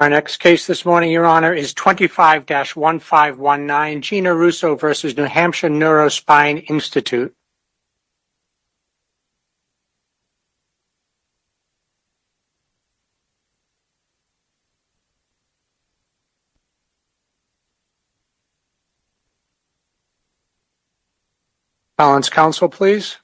Our next case this morning, Your Honor, is 25-1519, Gina Russo v. New Hampshire Neurospine Institute. Appellant's counsel, please.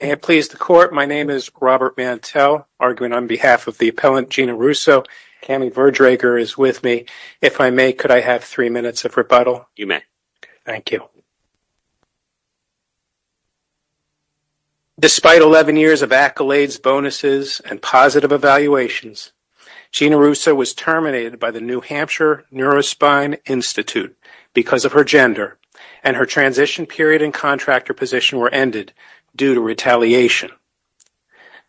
May it please the Court, my name is Robert Mantel, arguing on behalf of the appellant, Gina Russo. Kami Verdrager is with me. If I may, could I have three minutes of rebuttal? You may. Thank you. Despite 11 years of accolades, bonuses, and positive evaluations, Gina Russo was terminated by the New Hampshire Neurospine Institute because of her gender, and her transition period and contractor position were ended due to retaliation.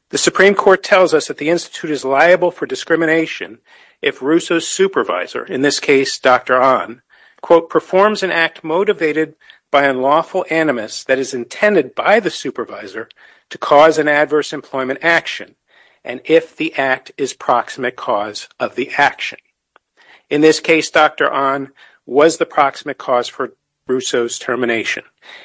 The Supreme Court tells us that the Institute is liable for discrimination if Russo's supervisor, in this case Dr. Ahn, quote, performs an act motivated by unlawful animus that is intended by the supervisor to cause an adverse employment action, and if the act is proximate cause of the action. In this case, Dr. Ahn was the proximate cause for Russo's termination.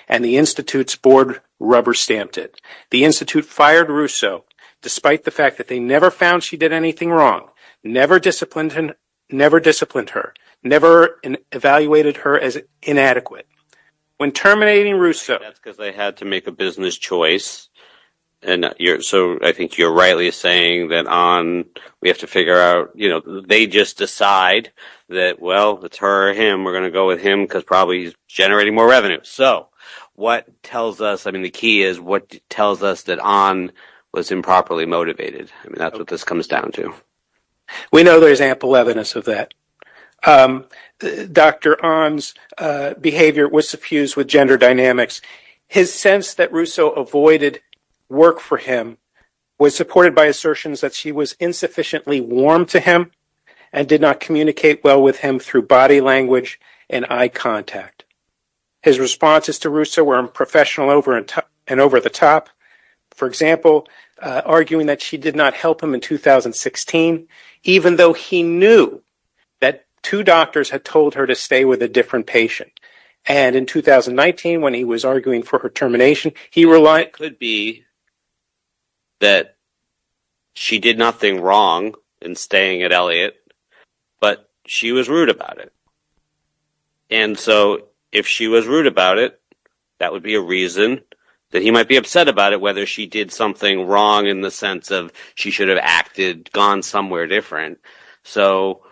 The Institute's board rubber-stamped it. The Institute fired Russo despite the fact that they never found she did anything wrong, never disciplined her, never evaluated her as inadequate. When terminating Russo, what tells us, I mean, the key is what tells us that Ahn was improperly motivated. I mean, that's what this comes down to. We know there's ample evidence of that. Dr. Ahn's behavior was suffused with gender dynamics. His sense that Russo avoided work for him was supported by assertions that she was insufficiently warm to him and did not communicate well with him through body language and eye contact. His responses to Russo were unprofessional and over the top. For example, arguing that she did not help him in 2016, even though he knew that two doctors had told her to stay with a different patient, and in 2019 when he was arguing for her termination, he relied... It could be that she did nothing wrong in staying at Elliott, but she was rude about it. And so if she was rude about it, that would be a reason that he might be upset about it, whether she did something wrong in the sense of she should have acted, gone somewhere different. So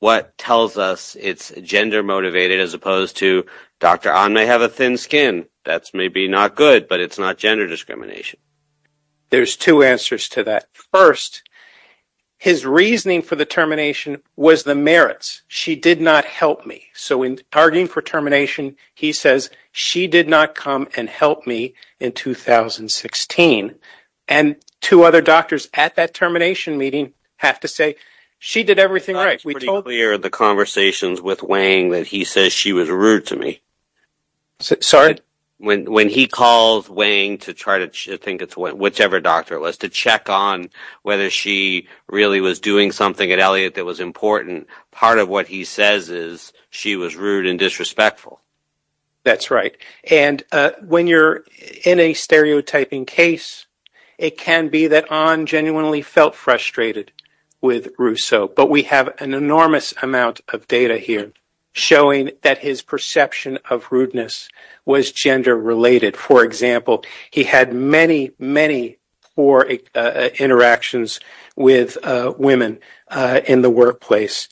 what tells us it's gender motivated as opposed to Dr. Ahn may have a thin skin. That's maybe not good, but it's not gender discrimination. There's two answers to that. First, his reasoning for the termination was the merits. She did not help me. So in arguing for termination, he says she did not come and help me in 2016. And two other doctors at that termination meeting have to say she did everything right. It's pretty clear in the conversations with Wang that he says she was rude to me. Sorry? When when he calls Wang to try to think it's whichever doctor it was to check on whether she really was doing something at Elliott that was important, part of what he says is she was rude and disrespectful. That's right. And when you're in a stereotyping case, it can be that Ahn genuinely felt frustrated with Rousseau, but we have an enormous amount of data here showing that his perception of rudeness was gender related. For example, he had many, many interactions with women in the workplace.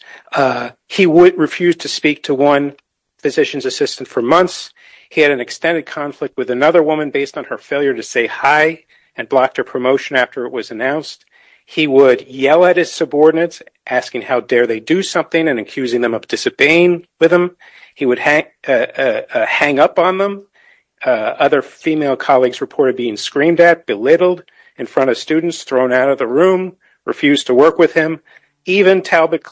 He would refuse to speak to one physician's assistant for months. He had an extended conflict with another woman based on her failure to say hi and blocked her promotion after it was announced. He would yell at his subordinates asking how dare they do something and accusing them of disobeying with him. He would hang up on them. Other female colleagues reported being screamed at, belittled in front of students, thrown out of the room, refused to work with him. Even Talbot.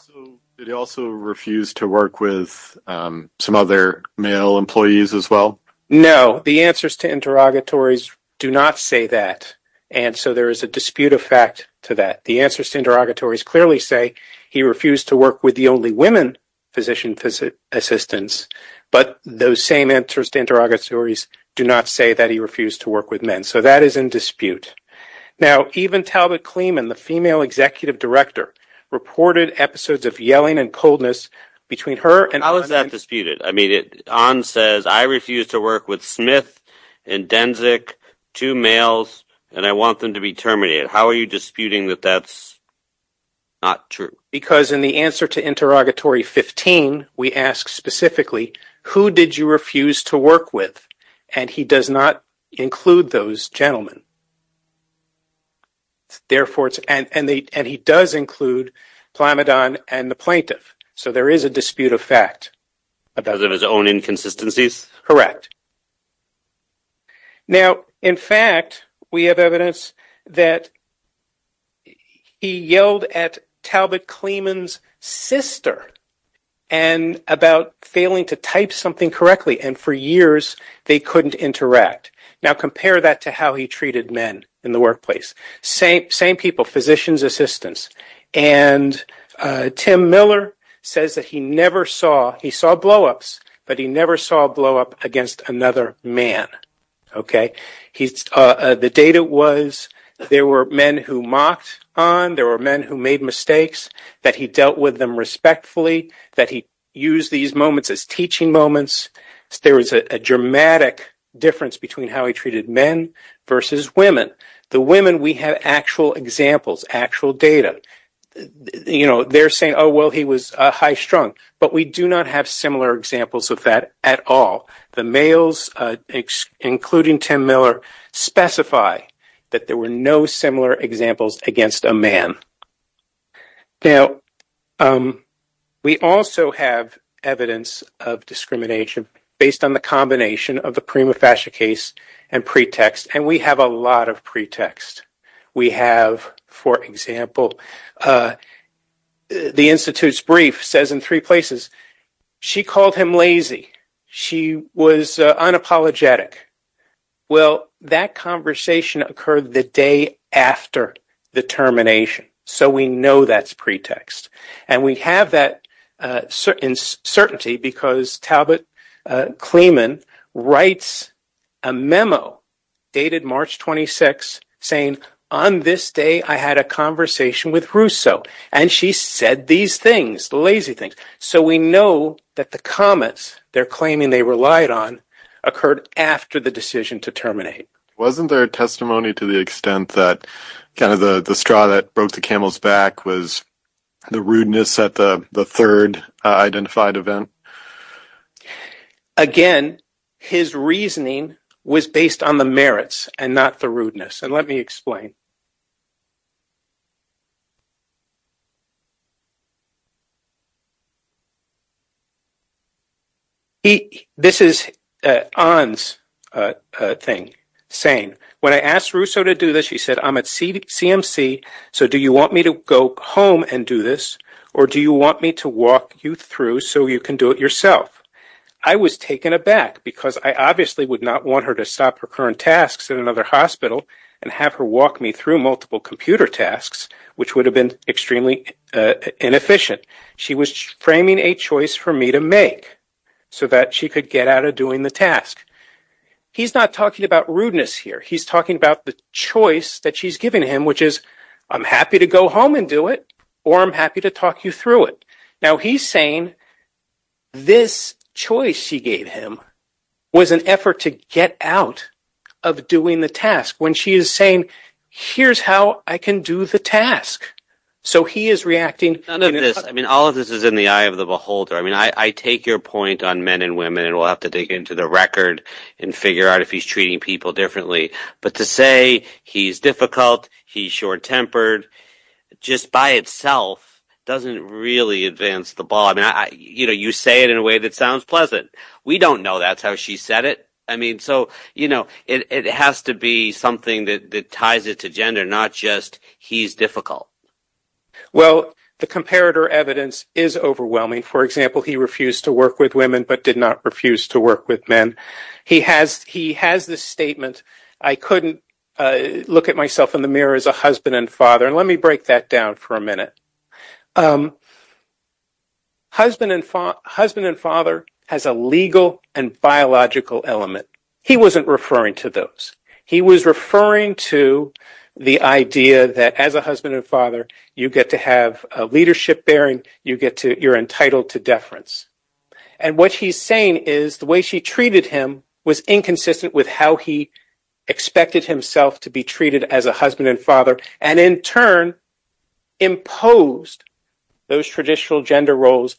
Did he also refuse to work with some other male employees as well? No, the answers to interrogatories do not say that. And so there is a dispute of fact to that. The answers to interrogatories clearly say he refused to work with the only women physician assistants, but those same answers to interrogatories do not say that he refused to work with men. So that is in dispute. Now, even Talbot Kleeman, the female executive director, reported episodes of yelling and coldness between her and Ahn. How is that disputed? I mean, Ahn says, I refuse to work with Smith and Denzik, two males, and I want them to be terminated. How are you disputing that that's not true? Because in the answer to interrogatory 15, we ask specifically, who did you refuse to work with? And he does not include those gentlemen. Therefore, and he does include Plamadon and the plaintiff. So there is a dispute of fact. Because of his own inconsistencies? Correct. Now, in fact, we have evidence that he yelled at Talbot Kleeman's sister and about failing to type something correctly and for years they couldn't interact. Now compare that to how he treated men in the workplace. Same people, physicians, assistants. And Tim Miller says that he never saw, he saw blow-ups, but he never saw a blow-up against another man. The data was there were men who mocked Ahn, there were men who made mistakes, that he dealt with them respectfully, that he used these moments as teaching moments. There is a dramatic difference between how he treated men versus women. The women we have actual examples, actual data. You know, they're saying, oh, well, he was a high strung, but we do not have similar examples of that at all. The males, including Tim Miller, specify that there were no similar examples against a man. Now, we also have evidence of discrimination based on the combination of the prima facie case and pretext, and we have a lot of pretext. We have, for example, the Institute's brief says in three places, she called him lazy, she was unapologetic. Well, that conversation occurred the day after the termination, so we know that's pretext. And we have that uncertainty because Talbot Kleeman writes a memo dated March 26, saying, on this day, I had a conversation with Russo, and she said these things, the lazy things. So we know that the comments they're claiming they relied on occurred after the decision to terminate. Wasn't there a testimony to the extent that kind of the straw that broke the camel's back was the rudeness at the third identified event? Again, his reasoning was based on the merits and not the rudeness, and let me explain. This is Ahn's thing, saying, when I asked Russo to do this, she said, I'm at CMC, so do you want me to go home and do this, or do you want me to walk you through so you can do it yourself? I was taken aback because I obviously would not want her to stop her current tasks in another hospital and have her walk me through multiple computer tasks, which would have been extremely inefficient. She was framing a choice for me to make so that she could get out of doing the task. He's not talking about rudeness here. He's talking about the choice that she's giving him, which is, I'm happy to go home and do it, or I'm happy to talk you through it. Now he's saying this choice she gave him was an effort to get out of doing the task when she is saying, here's how I can do the task. So he is reacting. None of this, I mean, all of this is in the eye of the beholder. I mean, I take your point on men and women, and we'll have to dig into the record and figure out if he's treating people differently. But to say he's difficult, he's short-tempered, just by itself doesn't really advance the ball. I mean, you say it in a way that sounds pleasant. We don't know that's how she said it. I mean, so it has to be something that ties it to gender, not just he's difficult. Well, the comparator evidence is overwhelming. For example, he refused to work with women but did not refuse to work with men. He has this statement, I couldn't look at myself in the mirror as a husband and father, and let me break that down for a minute. Husband and father has a legal and biological element. He wasn't referring to those. He was referring to the idea that as a husband and father, you get to have a leadership bearing, you're entitled to deference. And what he's saying is the way she treated him was inconsistent with how he expected himself to be treated as a husband and father, and in turn, imposed those traditional gender roles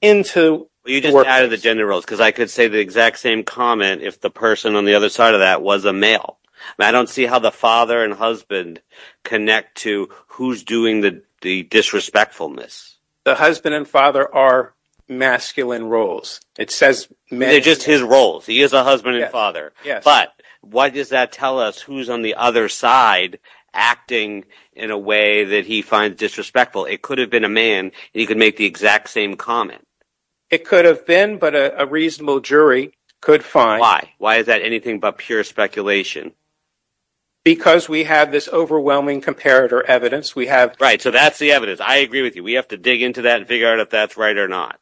into work. You just added the gender roles, because I could say the exact same comment if the person on the other side of that was a male. I don't see how the father and husband connect to who's doing the disrespectfulness. The husband and father are masculine roles. It says men. They're just his roles. He is a husband and father. Yes. But why does that tell us who's on the other side acting in a way that he finds disrespectful? It could have been a man. He could make the exact same comment. It could have been, but a reasonable jury could find. Why? Why is that anything but pure speculation? Because we have this overwhelming comparator evidence we have. Right. So that's the evidence. I agree with you. We have to dig into that and figure out if that's right or not.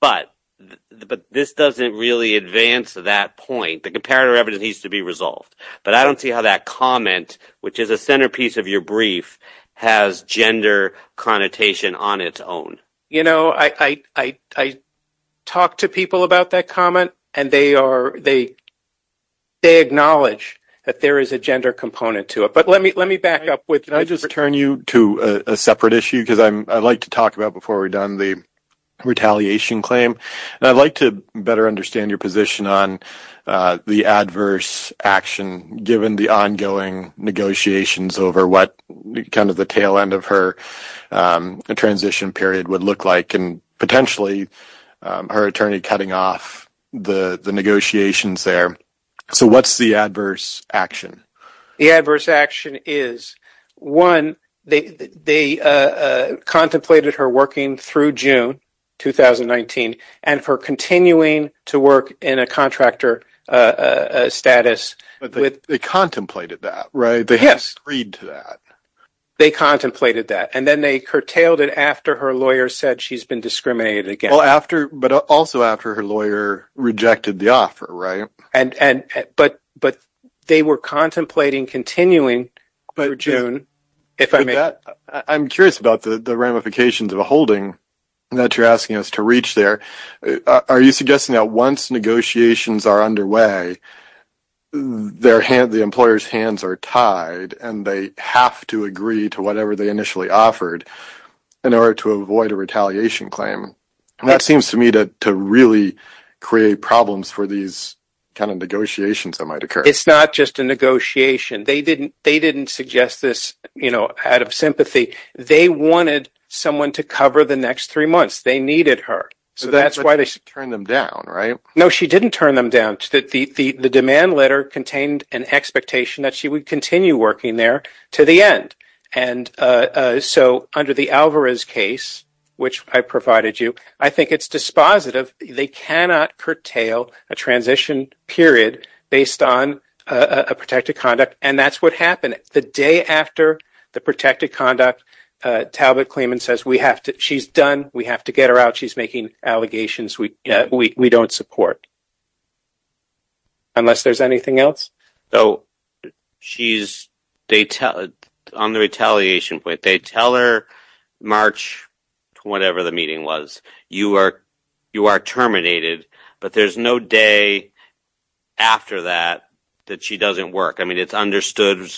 But this doesn't really advance to that point. The comparator evidence needs to be resolved. But I don't see how that comment, which is a centerpiece of your brief, has gender connotation on its own. You know, I talk to people about that comment, and they acknowledge that there is a gender component to it. But let me back up with... Can I just turn you to a separate issue? Because I'd like to talk about, before we're done, the retaliation claim. And I'd like to better understand your position on the adverse action, given the ongoing negotiations over what kind of the tail end of her transition period would look like, and potentially her attorney cutting off the negotiations there. So what's the adverse action? The adverse action is, one, they contemplated her working through June 2019, and for continuing to work in a contractor status. But they contemplated that, right? Yes, they contemplated that. And then they curtailed it after her lawyer said she's been discriminated against. But also after her lawyer rejected the offer, right? But they were contemplating continuing through June. I'm curious about the ramifications of a holding that you're asking us to reach there. Are you suggesting that once negotiations are underway, the employer's hands are tied and they have to agree to whatever they initially offered in order to avoid a retaliation claim? And that seems to me to really create problems for these kind of negotiations that might occur. It's not just a negotiation. They didn't suggest this out of sympathy. They wanted someone to cover the next three months. They needed her. So that's why they... Turned them down, right? No, she didn't turn them down. The demand letter contained an expectation that she would continue working there to the end. And so under the Alvarez case, which I provided you, I think it's dispositive. They cannot curtail a transition period based on a protected conduct. And that's what happened. The day after the protected conduct, Talbot-Clement says, she's done. We have to get her out. She's making allegations we don't support. Unless there's anything else? On the retaliation point, they tell her, March whatever the meeting was, you are terminated. But there's no day after that that she doesn't work. I mean, it's understood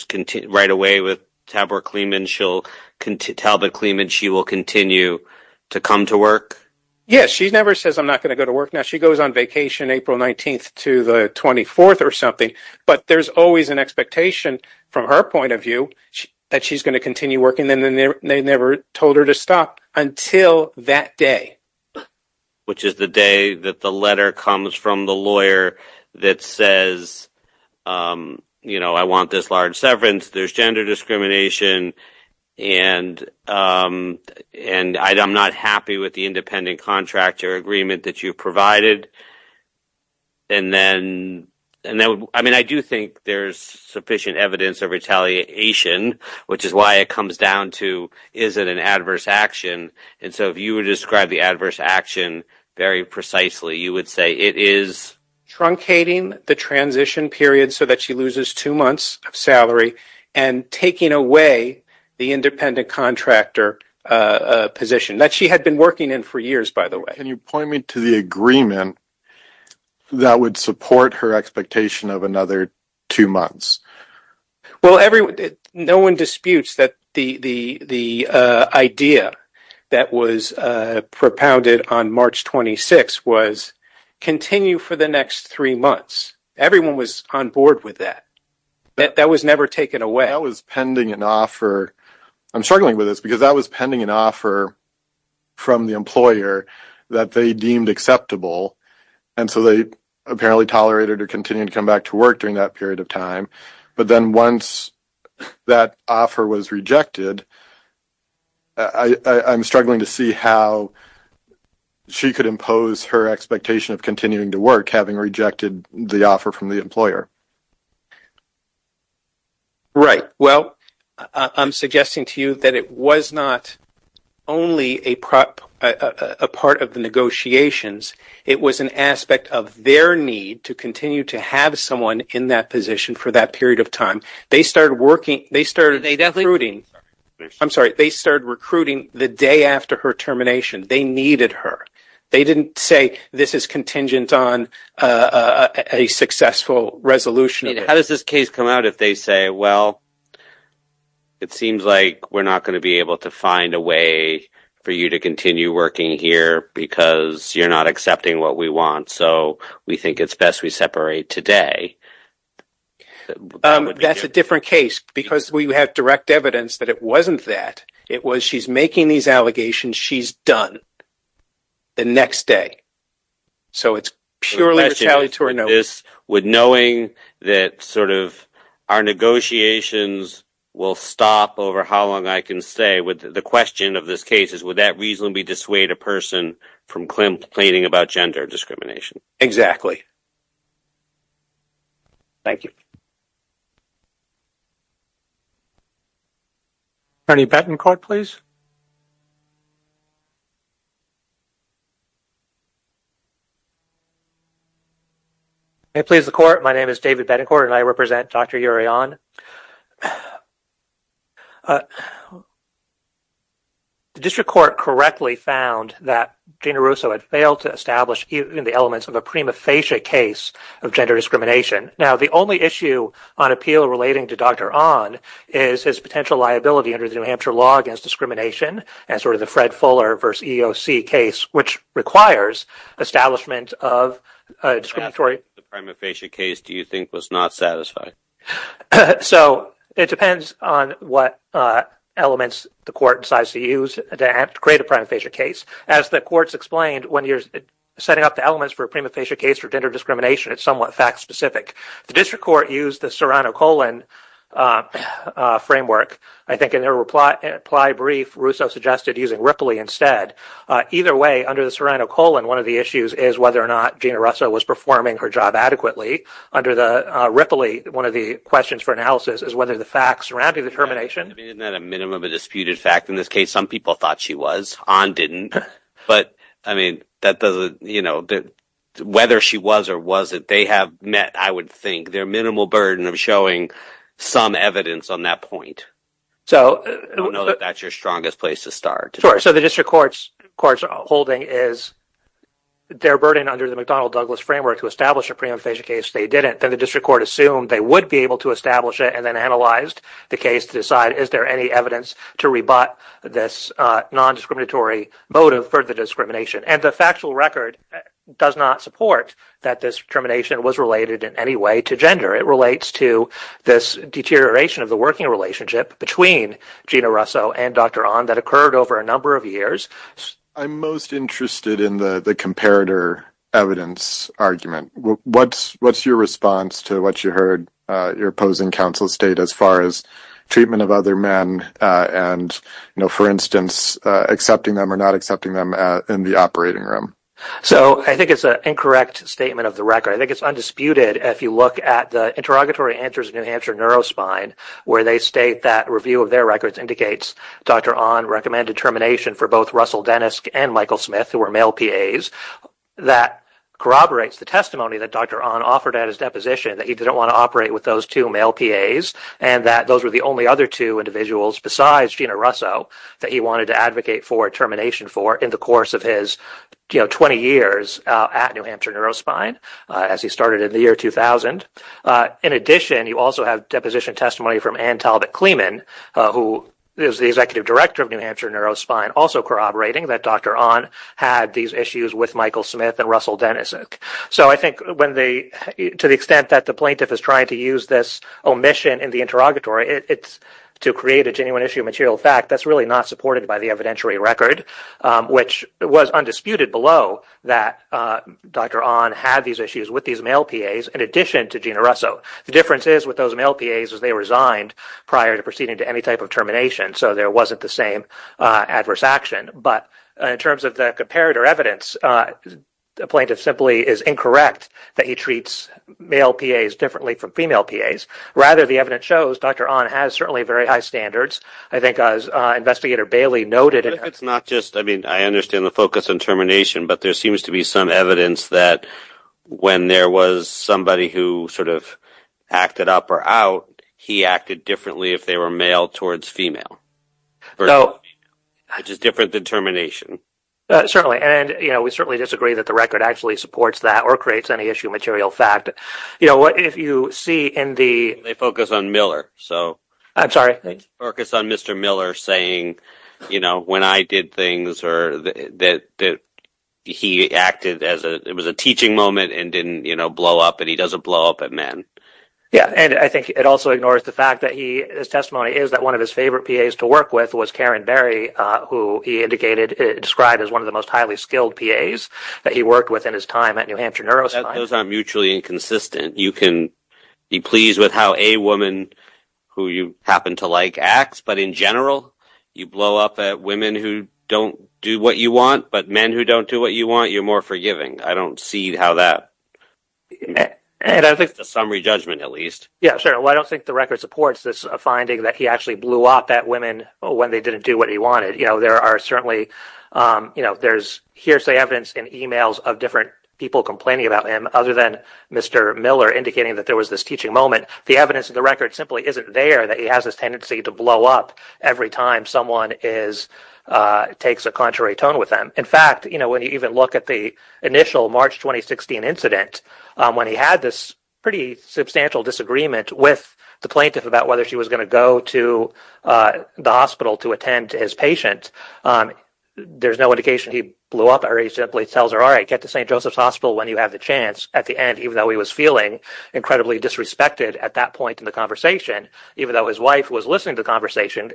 right away with Talbot-Clement she will continue to come to work? Yes. She never says I'm not going to go to work now. She goes on vacation April 19th to the 24th or something. But there's always an expectation from her point of view that she's going to continue working. And then they never told her to stop until that day. Which is the day that the letter comes from the lawyer that says, I want this large severance. There's gender discrimination. And I'm not happy with the independent contractor agreement that you've provided. And then, I mean, I do think there's sufficient evidence of retaliation, which is why it comes down to, is it an adverse action? And so if you would describe the adverse action very precisely, you would say it is truncating the transition period so that she loses two months of salary and taking away the independent contractor position that she had been working in for years, by the way. Can you point me to the agreement that would support her expectation of another two months? Well, no one disputes that the idea that was propounded on March 26th was continue for the next three months. Everyone was on board with that. That was never taken away. That was pending an offer. I'm struggling with this because that was pending an offer from the employer that they deemed acceptable. And so they apparently tolerated her continuing to come back to work during that period of time. But then once that offer was rejected, I'm struggling to see how she could impose her expectation of continuing to work, having rejected the offer from the employer. Right. Well, I'm suggesting to you that it was not only a part of the negotiations. It was an aspect of their need to continue to have someone in that position for that period of time. They started recruiting the day after her termination. They needed her. They didn't say this is contingent on a successful resolution. How does this case come out if they say, well, it seems like we're not going to be able to find a way for you to continue working here because you're not accepting what we want. So we think it's best we separate today. That's a different case because we have direct evidence that it wasn't that. It was she's making these allegations. She's done. The next day. So it's purely retaliatory. With knowing that sort of our negotiations will stop over how long I can stay with the question of this case is would that reasonably dissuade a person from complaining about gender discrimination? Exactly. Thank you. Attorney Betancourt, please. May it please the court. My name is David Betancourt and I represent Dr. Urion. The district court correctly found that Gina Russo had failed to establish the elements of a prima facie case of gender discrimination. Now, the only issue on appeal relating to Dr. Onn is his potential liability under the New Hampshire law against discrimination and sort of the Fred Fuller versus EOC case, which requires establishment of a discriminatory prima facie case, do you think was not satisfied? So it depends on what elements the court decides to use to create a prima facie case. As the courts explained, when you're setting up the elements for a prima facie case for gender discrimination, it's somewhat fact specific. The district court used the Serrano-Colin framework. I think in their reply brief, Russo suggested using Ripley instead. Either way, under the Serrano-Colin, one of the issues is whether or not Gina Russo was performing her job adequately. Under the Ripley, one of the questions for analysis is whether the facts surrounding the termination. Isn't that a minimum of a disputed fact? In this case, some people thought she was. Onn didn't. But I mean, whether she was or wasn't, they have met, I would think, their minimal burden of showing some evidence on that point. So I don't know that that's your strongest place to start. So the district court's holding is their burden under the McDonnell-Douglas framework to establish a prima facie case. They didn't. Then the district court assumed they would be able to establish it and then analyzed the case to decide, is there any evidence to rebut this non-discriminatory motive for the discrimination? And the factual record does not support that this termination was related in any way to gender. It relates to this deterioration of the working relationship between Gina Russo and Dr. Onn that occurred over a number of years. I'm most interested in the comparator evidence argument. What's your response to what you heard your opposing counsel state as far as treatment of other men and, for instance, accepting them or not accepting them in the operating room? So I think it's an incorrect statement of the record. I think it's undisputed if you look at the interrogatory answers of New Hampshire Neurospine, where they state that review of their records indicates Dr. Onn recommended termination for both Russell Dennis and Michael Smith, who were male PAs. That corroborates the testimony that Dr. Onn offered at his deposition, that he didn't want to operate with those two male PAs, and that those were the only other two individuals besides Gina Russo that he wanted to advocate for termination for in the course of his 20 years at New Hampshire Neurospine, as he started in the year 2000. In addition, you also have deposition testimony from Ann Talbot-Clemen, who is the executive director of New Hampshire Neurospine, also corroborating that Dr. Onn had these issues with Michael Smith and Russell Dennis. So I think to the extent that the plaintiff is trying to use this omission in the interrogatory to create a genuine issue of material fact, that's really not supported by the evidentiary record, which was undisputed below that Dr. Onn had these issues with these male PAs in addition to Gina Russo. The difference is with those male PAs is they resigned prior to proceeding to any type of termination, so there wasn't the same adverse action. But in terms of the comparator evidence, the plaintiff simply is incorrect that he treats male PAs differently from female PAs. Rather, the evidence shows Dr. Onn has certainly very high standards. I think, as Investigator Bailey noted, it's not just, I mean, I understand the focus on termination, but there seems to be some evidence that when there was somebody who sort of acted up or out, he acted differently if they were male towards female, which is different than termination. Certainly, and, you know, we certainly disagree that the record actually supports that or creates any issue of material fact. You know what, if you see in the... They focus on Miller, so... I'm sorry? They focus on Mr. Miller saying, you know, when I did things or that he acted as a, it was a teaching moment and didn't, you know, blow up, and he doesn't blow up at men. Yeah, and I think it also ignores the fact that he his testimony is that one of his favorite PAs to work with was Karen Berry, who he indicated, described as one of the most highly skilled PAs that he worked with in his time at New Hampshire Neuroscience. Those aren't mutually inconsistent. You can be pleased with how a woman who you happen to like acts, but in general, you blow up at women who don't do what you want, but men who don't do what you want, you're more forgiving. I don't see how that... And I think it's a summary judgment, at least. Yeah, sure. Well, I don't think the record supports this finding that he actually blew up at women when they didn't do what he wanted. You know, there are certainly, you know, there's hearsay evidence in emails of different people complaining about him, other than Mr. Miller indicating that there was this teaching moment. The evidence of the record simply isn't there, that he has this tendency to blow up every time someone takes a contrary tone with them. In fact, you know, when you even look at the initial March 2016 incident, when he had this substantial disagreement with the plaintiff about whether she was going to go to the hospital to attend to his patient, there's no indication he blew up, or he simply tells her, all right, get to St. Joseph's Hospital when you have the chance. At the end, even though he was feeling incredibly disrespected at that point in the conversation, even though his wife was listening to the conversation,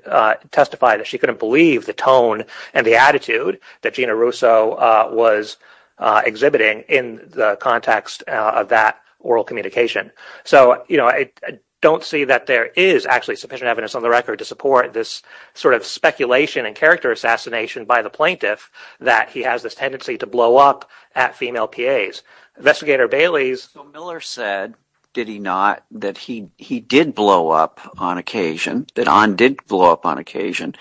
testified that she couldn't believe the tone and the attitude that Gina Russo was exhibiting in the context of that oral communication. So, you know, I don't see that there is actually sufficient evidence on the record to support this sort of speculation and character assassination by the plaintiff that he has this tendency to blow up at female PAs. Investigator Bailey's... So Miller said, did he not, that he did blow up on occasion, that Ahn did blow up on occasion,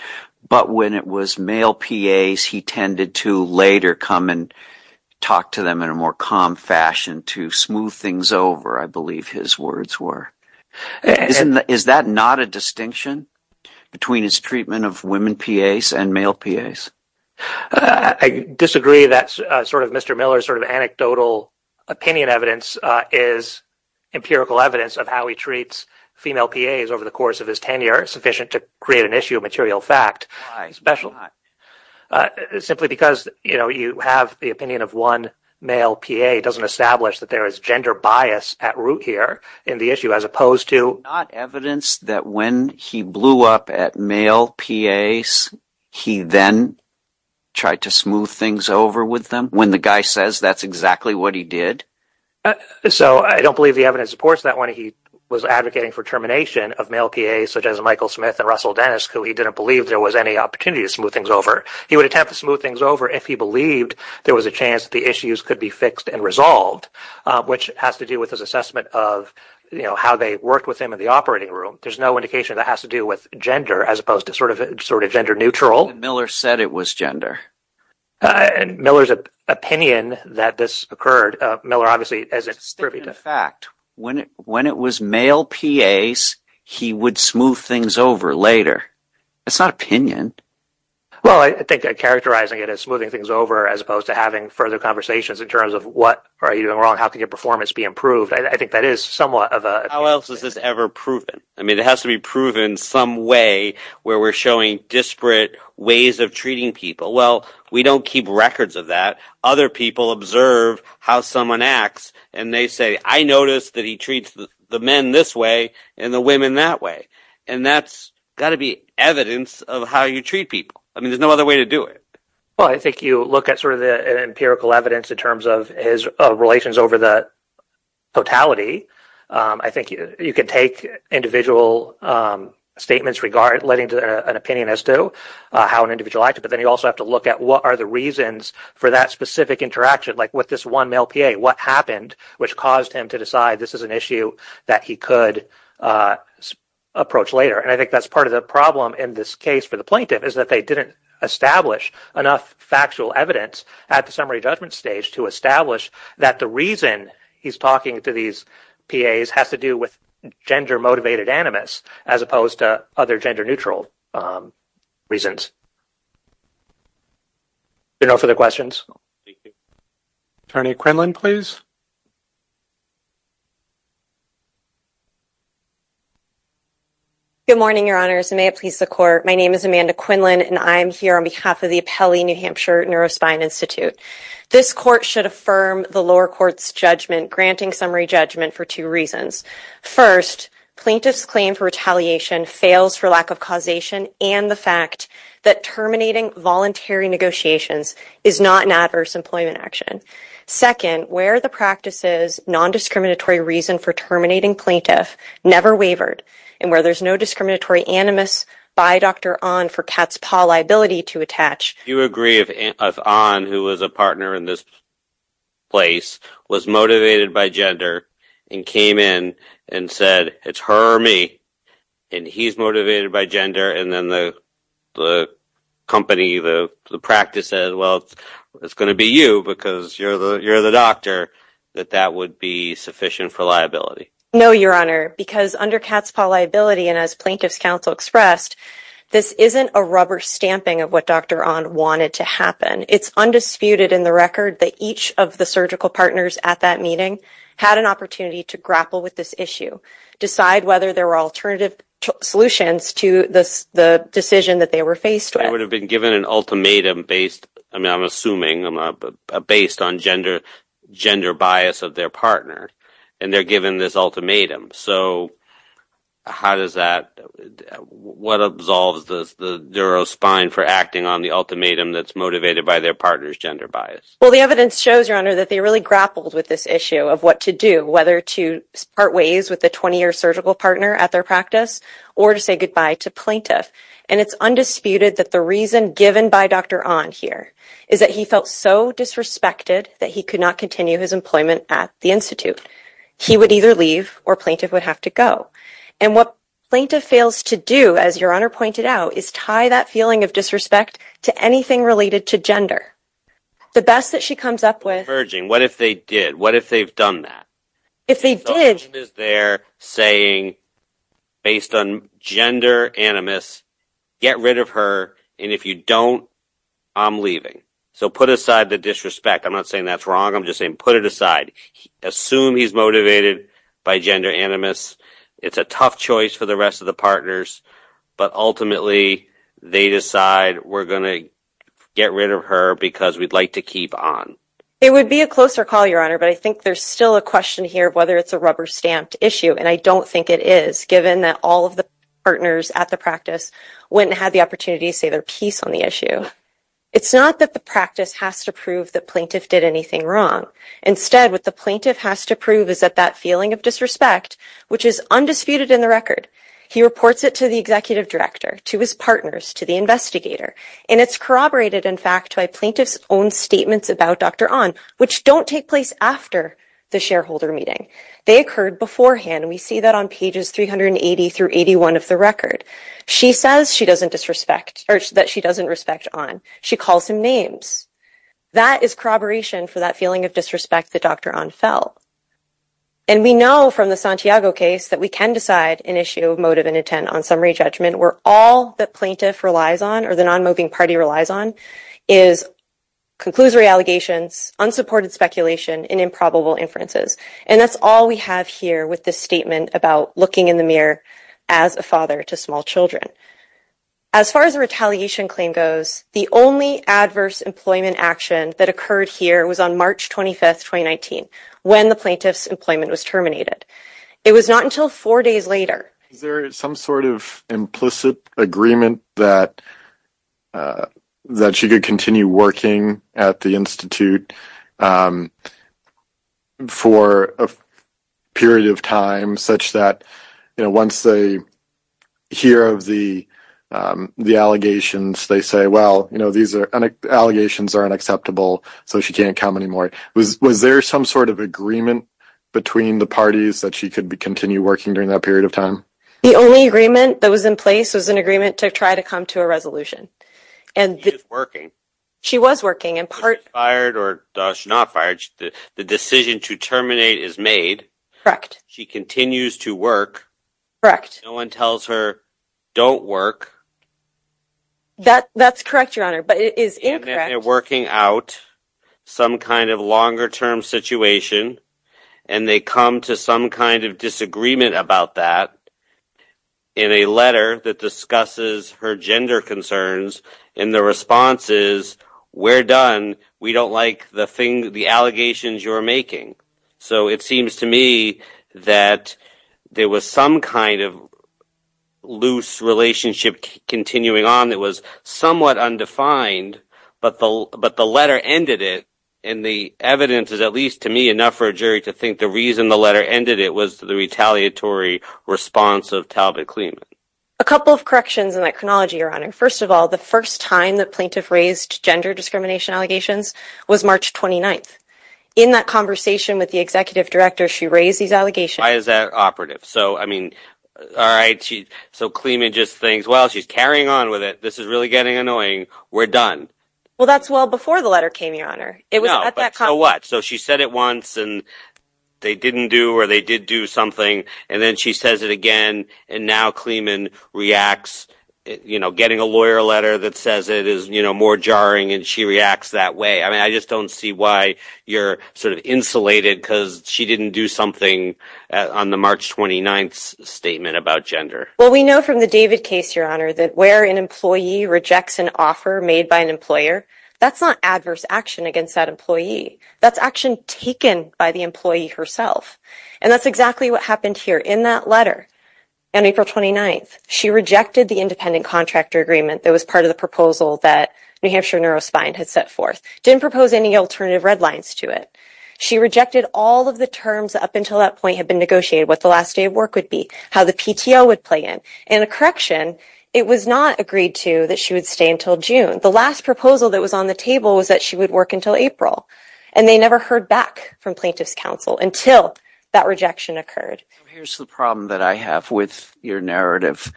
but when it was male PAs, he tended to later come and talk to them in a more calm fashion to smooth things over, I believe his words were. Is that not a distinction between his treatment of women PAs and male PAs? I disagree that sort of Mr. Miller's sort of anecdotal opinion evidence is empirical evidence of how he treats female PAs over the course of his tenure, sufficient to create an issue of material fact, especially simply because, you know, you have the opinion of one male PA doesn't establish that there is gender bias at root here in the issue, as opposed to... Not evidence that when he blew up at male PAs, he then tried to smooth things over with them when the guy says that's exactly what he did? So I don't believe the evidence supports that he was advocating for termination of male PAs such as Michael Smith and Russell Dennis, who he didn't believe there was any opportunity to smooth things over. He would attempt to smooth things over if he believed there was a chance the issues could be fixed and resolved, which has to do with his assessment of, you know, how they worked with him in the operating room. There's no indication that has to do with gender, as opposed to sort of gender neutral. Miller said it was gender. Miller's opinion that this occurred, Miller obviously... Sticking to fact, when it was male PAs, he would smooth things over later. It's not opinion. Well, I think characterizing it as smoothing things over, as opposed to having further conversations in terms of what are you doing wrong? How can your performance be improved? I think that is somewhat of a... How else is this ever proven? I mean, it has to be proven some way where we're showing disparate ways of treating people. Well, we don't keep records of that. Other people observe how someone acts, and they say, I noticed that he treats the men this way and the women that way, and that's got to be evidence of how you treat people. I mean, there's no other way to do it. Well, I think you look at sort of the empirical evidence in terms of his relations over the totality. I think you can take individual statements regarding an opinion as to how an individual acted, but then you also have to look at what are the reasons for that specific interaction, like with this one male PA? What happened which caused him to decide this is an issue that he could approach later? And I think that's part of the problem in this case for the plaintiff, is that they didn't establish enough factual evidence at the summary judgment stage to establish that the reason he's talking to these PAs has to do with gender-motivated animus, as opposed to other gender-neutral reasons. If there are no further questions. Attorney Quinlan, please. Good morning, Your Honors, and may it please the Court. My name is Amanda Quinlan, and I'm here on behalf of the Appellee New Hampshire Neurospine Institute. This Court should affirm the lower court's judgment, granting summary judgment for two reasons. First, plaintiff's claim for retaliation fails for lack of causation and the fact that terminating voluntary negotiations is not an adverse employment action. Second, where the practice's non-discriminatory reason for terminating plaintiff never wavered, and where there's no discriminatory animus by Dr. Ahn for Katzpah liability to attach. You agree if Ahn, who was a partner in this place, was motivated by gender and came in and said, it's her or me, and he's motivated by gender, and then the company, the practice said, well, it's going to be you because you're the doctor, that that would be sufficient for liability? No, Your Honor, because under Katzpah liability, and as plaintiff's counsel expressed, this isn't a rubber stamping of what Dr. Ahn wanted to happen. It's undisputed in the record that each of the surgical partners at that meeting had an opportunity to grapple with this issue, decide whether there were alternative solutions to the decision that they were faced with. They would have been given an ultimatum based, I mean, I'm assuming, based on gender bias of their partner, and they're given this ultimatum. So how does that, what absolves the durospine for acting on the ultimatum that's motivated by their partner's gender bias? Well, the evidence shows, Your Honor, that they really grappled with this issue of what to do, whether to part ways with the 20-year surgical partner at their practice or to say goodbye to plaintiff, and it's undisputed that the reason given by Dr. Ahn here is that he felt so disrespected that he could not continue his employment at the Institute. He would either leave or plaintiff would have to go, and what plaintiff fails to do, as Your Honor pointed out, is tie that feeling of anything related to gender. The best that she comes up with... The Virgin, what if they did? What if they've done that? If they did... The Virgin is there saying, based on gender animus, get rid of her, and if you don't, I'm leaving. So put aside the disrespect. I'm not saying that's wrong, I'm just saying put it aside. Assume he's motivated by gender animus. It's a tough choice for the rest of the partners, but ultimately they decide we're going to get rid of her because we'd like to keep on. It would be a closer call, Your Honor, but I think there's still a question here whether it's a rubber-stamped issue, and I don't think it is, given that all of the partners at the practice went and had the opportunity to say their piece on the issue. It's not that the practice has to prove the plaintiff did anything wrong. Instead, what the plaintiff has to prove is that that disrespect, which is undisputed in the record, he reports it to the executive director, to his partners, to the investigator, and it's corroborated, in fact, by plaintiff's own statements about Dr. Ahn, which don't take place after the shareholder meeting. They occurred beforehand, and we see that on pages 380 through 81 of the record. She says that she doesn't respect Ahn. She calls him names. That is corroboration for that feeling of disrespect that Dr. Ahn felt, and we know from the Santiago case that we can decide an issue of motive and intent on summary judgment where all the plaintiff relies on or the non-moving party relies on is conclusory allegations, unsupported speculation, and improbable inferences, and that's all we have here with this statement about looking in the mirror as a father to small children. As far as a retaliation claim goes, the only adverse employment action that occurred here was on March 25, 2019, when the plaintiff's employment was terminated. It was not until four days later. Is there some sort of implicit agreement that she could continue working at the institute for a period of time such that, you know, once they hear of the was there some sort of agreement between the parties that she could continue working during that period of time? The only agreement that was in place was an agreement to try to come to a resolution, and she was working in part fired or not fired. The decision to terminate is made. Correct. She continues to work. Correct. No one tells her don't work. That's correct, Your Honor, but it is incorrect. And they're working out some kind of longer-term situation, and they come to some kind of disagreement about that in a letter that discusses her gender concerns, and the response is, we're done. We don't like the allegations you're making. So it seems to me that there was some kind of loose relationship continuing on that was somewhat undefined, but the letter ended it, and the evidence is, at least to me, enough for a jury to think the reason the letter ended it was the retaliatory response of Talbot-Clement. A couple of corrections in that chronology, Your Honor. First of all, the first time the plaintiff raised gender discrimination allegations was March 29th. In that conversation with the executive director, she raised these allegations. Why is that operative? So, I mean, all right, so Clement just thinks, well, she's carrying on with it. This is really getting annoying. We're done. Well, that's well before the letter came, Your Honor. No, but so what? So she said it once, and they didn't do or they did do something, and then she says it again, and now Clement reacts. You know, getting a lawyer a letter that says it is, you know, more jarring, and she reacts that way. I mean, I just don't see why you're sort of insulated because she didn't do something on the March 29th statement about gender. Well, we know from the David case, Your Honor, that where an employee rejects an offer made by an employer, that's not adverse action against that employee. That's action taken by the employee herself, and that's exactly what happened here in that letter on April 29th. She rejected the independent contractor agreement that was part of the proposal that New Hampshire Neurospine had set forth, didn't propose any alternative red lines to it. She rejected all of the terms up until that point had been negotiated, what the last day of work would be, how the PTO would play in. In a correction, it was not agreed to that she would stay until June. The last proposal that was on the table was that she would work until April, and they never heard back from plaintiff's counsel until that rejection occurred. Here's the problem that I have with your narrative.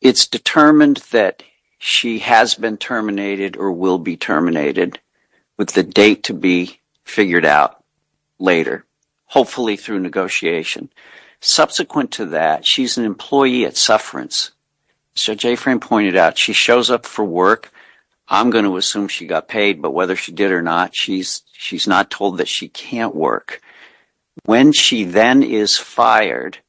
It's determined that she has been terminated or will be terminated, with the date to be figured out later, hopefully through negotiation. Subsequent to that, she's an employee at Sufferance. Judge Afrin pointed out she shows up for work. I'm going to assume she got paid, but whether she did or not, she's not told that she can't work. When she then is fired, she's not told that she can't work.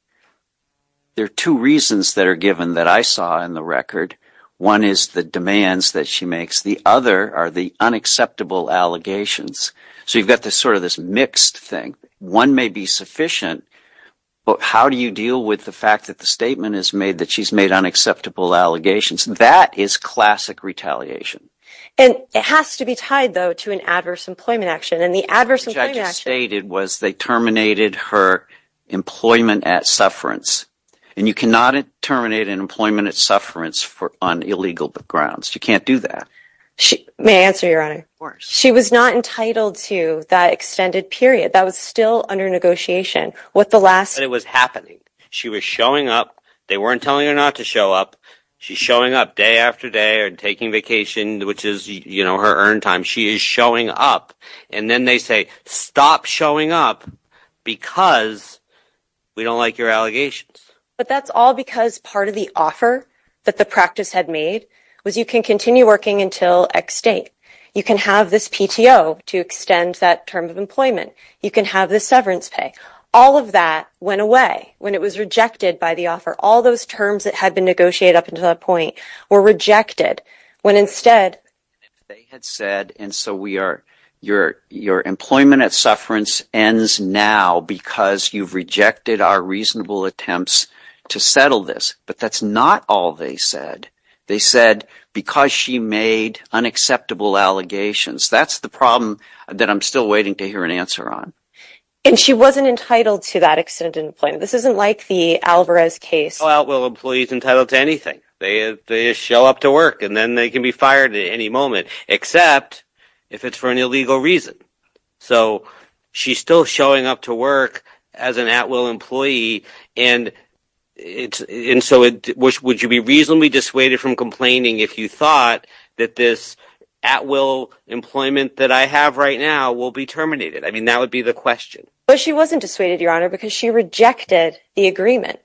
There are two reasons that are given that I saw in the record. One is the demands that she makes. The other are the unacceptable allegations. So you've got this sort of this mixed thing. One may be sufficient, but how do you deal with the fact that the statement is made that she's made unacceptable allegations? That is classic retaliation. And it has to be tied though to an adverse employment action, and the adverse employment action stated was they terminated her employment at Sufferance. And you cannot terminate an employment at Sufferance for on illegal grounds. You can't do that. May I answer, Your Honor? Of course. She was not entitled to that extended period. That was still under negotiation. What the last... But it was happening. She was showing up. They weren't telling her not to show up. She's showing up day after day or taking vacation, which is, you know, her earned time. She is showing up. And then they say, stop showing up because we don't like your allegations. But that's all because part of the offer that the practice had made was you can continue working until X date. You can have this PTO to extend that term of employment. You can have the severance pay. All of that went away when it was rejected by the offer. All those terms that had been negotiated up until that point were rejected when instead... They had said, and so we are... Your employment at Sufferance ends now because you've rejected our reasonable attempts to settle this. But that's not all they said. They said because she made unacceptable allegations. That's the problem that I'm still waiting to hear an answer on. And she wasn't entitled to that extended employment. This isn't the Alvarez case. Well, employees entitled to anything. They show up to work and then they can be fired at any moment, except if it's for an illegal reason. So she's still showing up to work as an at-will employee. And so would you be reasonably dissuaded from complaining if you thought that this at-will employment that I have right now will be terminated? I mean, that would be the question. But she wasn't dissuaded, Your Honor, because she rejected the agreement.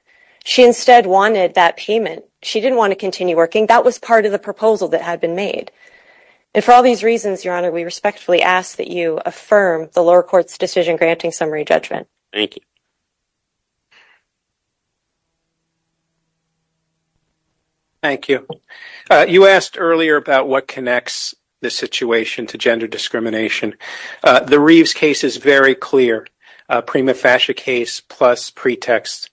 She instead wanted that payment. She didn't want to continue working. That was part of the proposal that had been made. And for all these reasons, Your Honor, we respectfully ask that you affirm the lower court's decision granting summary judgment. Thank you. Thank you. You asked earlier about what connects the situation to gender discrimination. The very clear prima facie case plus pretext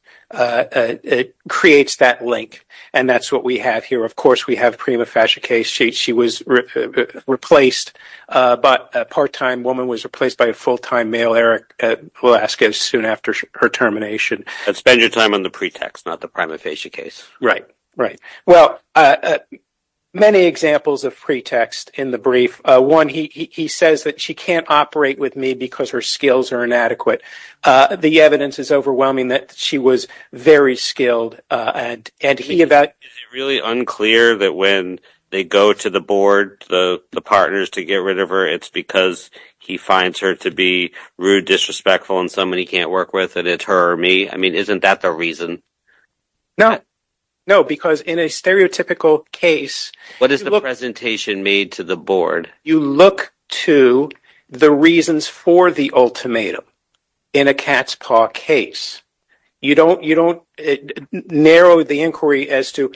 creates that link. And that's what we have here. Of course, we have prima facie case. She was replaced, but a part-time woman was replaced by a full-time male, Eric Velasquez, soon after her termination. But spend your time on the pretext, not the prima facie case. Right, right. Well, many examples of pretext in the brief. One, he says that she can't operate with me because her skills are inadequate. The evidence is overwhelming that she was very skilled. Is it really unclear that when they go to the board, the partners, to get rid of her, it's because he finds her to be rude, disrespectful, and somebody he can't work with, and it's her or me? I mean, isn't that the reason? No. No, because in a stereotypical case, what is the presentation made to the board? You look to the reasons for the ultimatum in a cat's paw case. You don't narrow the inquiry as to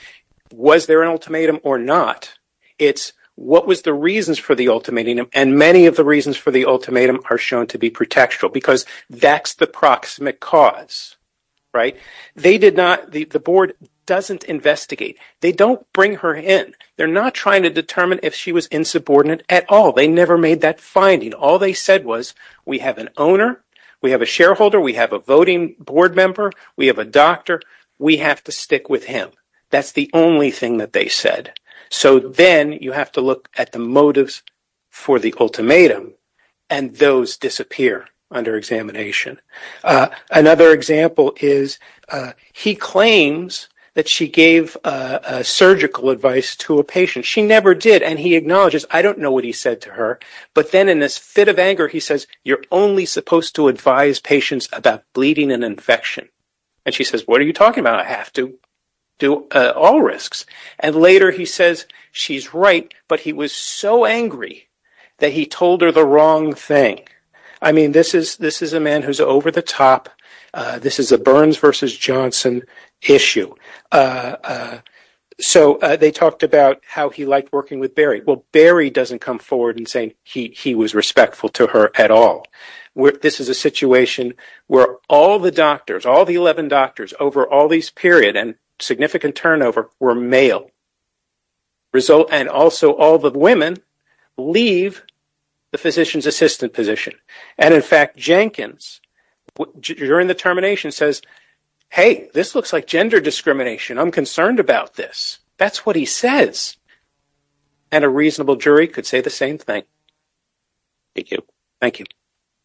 was there an ultimatum or not. It's what was the reasons for the ultimatum, and many of the reasons for the ultimatum are shown to be pretextual, because that's the proximate cause, right? They did not, the board doesn't investigate. They don't bring her in. They're not trying to determine if she was insubordinate at all. They never made that finding. All they said was, we have an owner. We have a shareholder. We have a voting board member. We have a doctor. We have to stick with him. That's the only thing that they said. So then you have to look at the motives for the ultimatum, and those disappear under examination. Another example is he claims that she gave surgical advice to a patient. She never did, and he acknowledges, I don't know what he said to her, but then in this fit of anger, he says, you're only supposed to advise patients about bleeding and infection, and she says, what are you talking about? I have to do all risks, and later he says, she's right, but he was so angry that he told her the wrong thing. I mean, this is a man who's over the top. This is a Burns versus Johnson issue. So they talked about how he liked working with Barry. Well, Barry doesn't come forward and say he was respectful to her at all. This is a situation where all the doctors, all the 11 doctors over all these period and significant turnover were male, and also all the women leave the physician's assistant position, and in fact Jenkins during the termination says, hey, this looks like gender discrimination. I'm concerned about this. That's what he says, and a reasonable jury could say the same thing. Thank you. Thank you.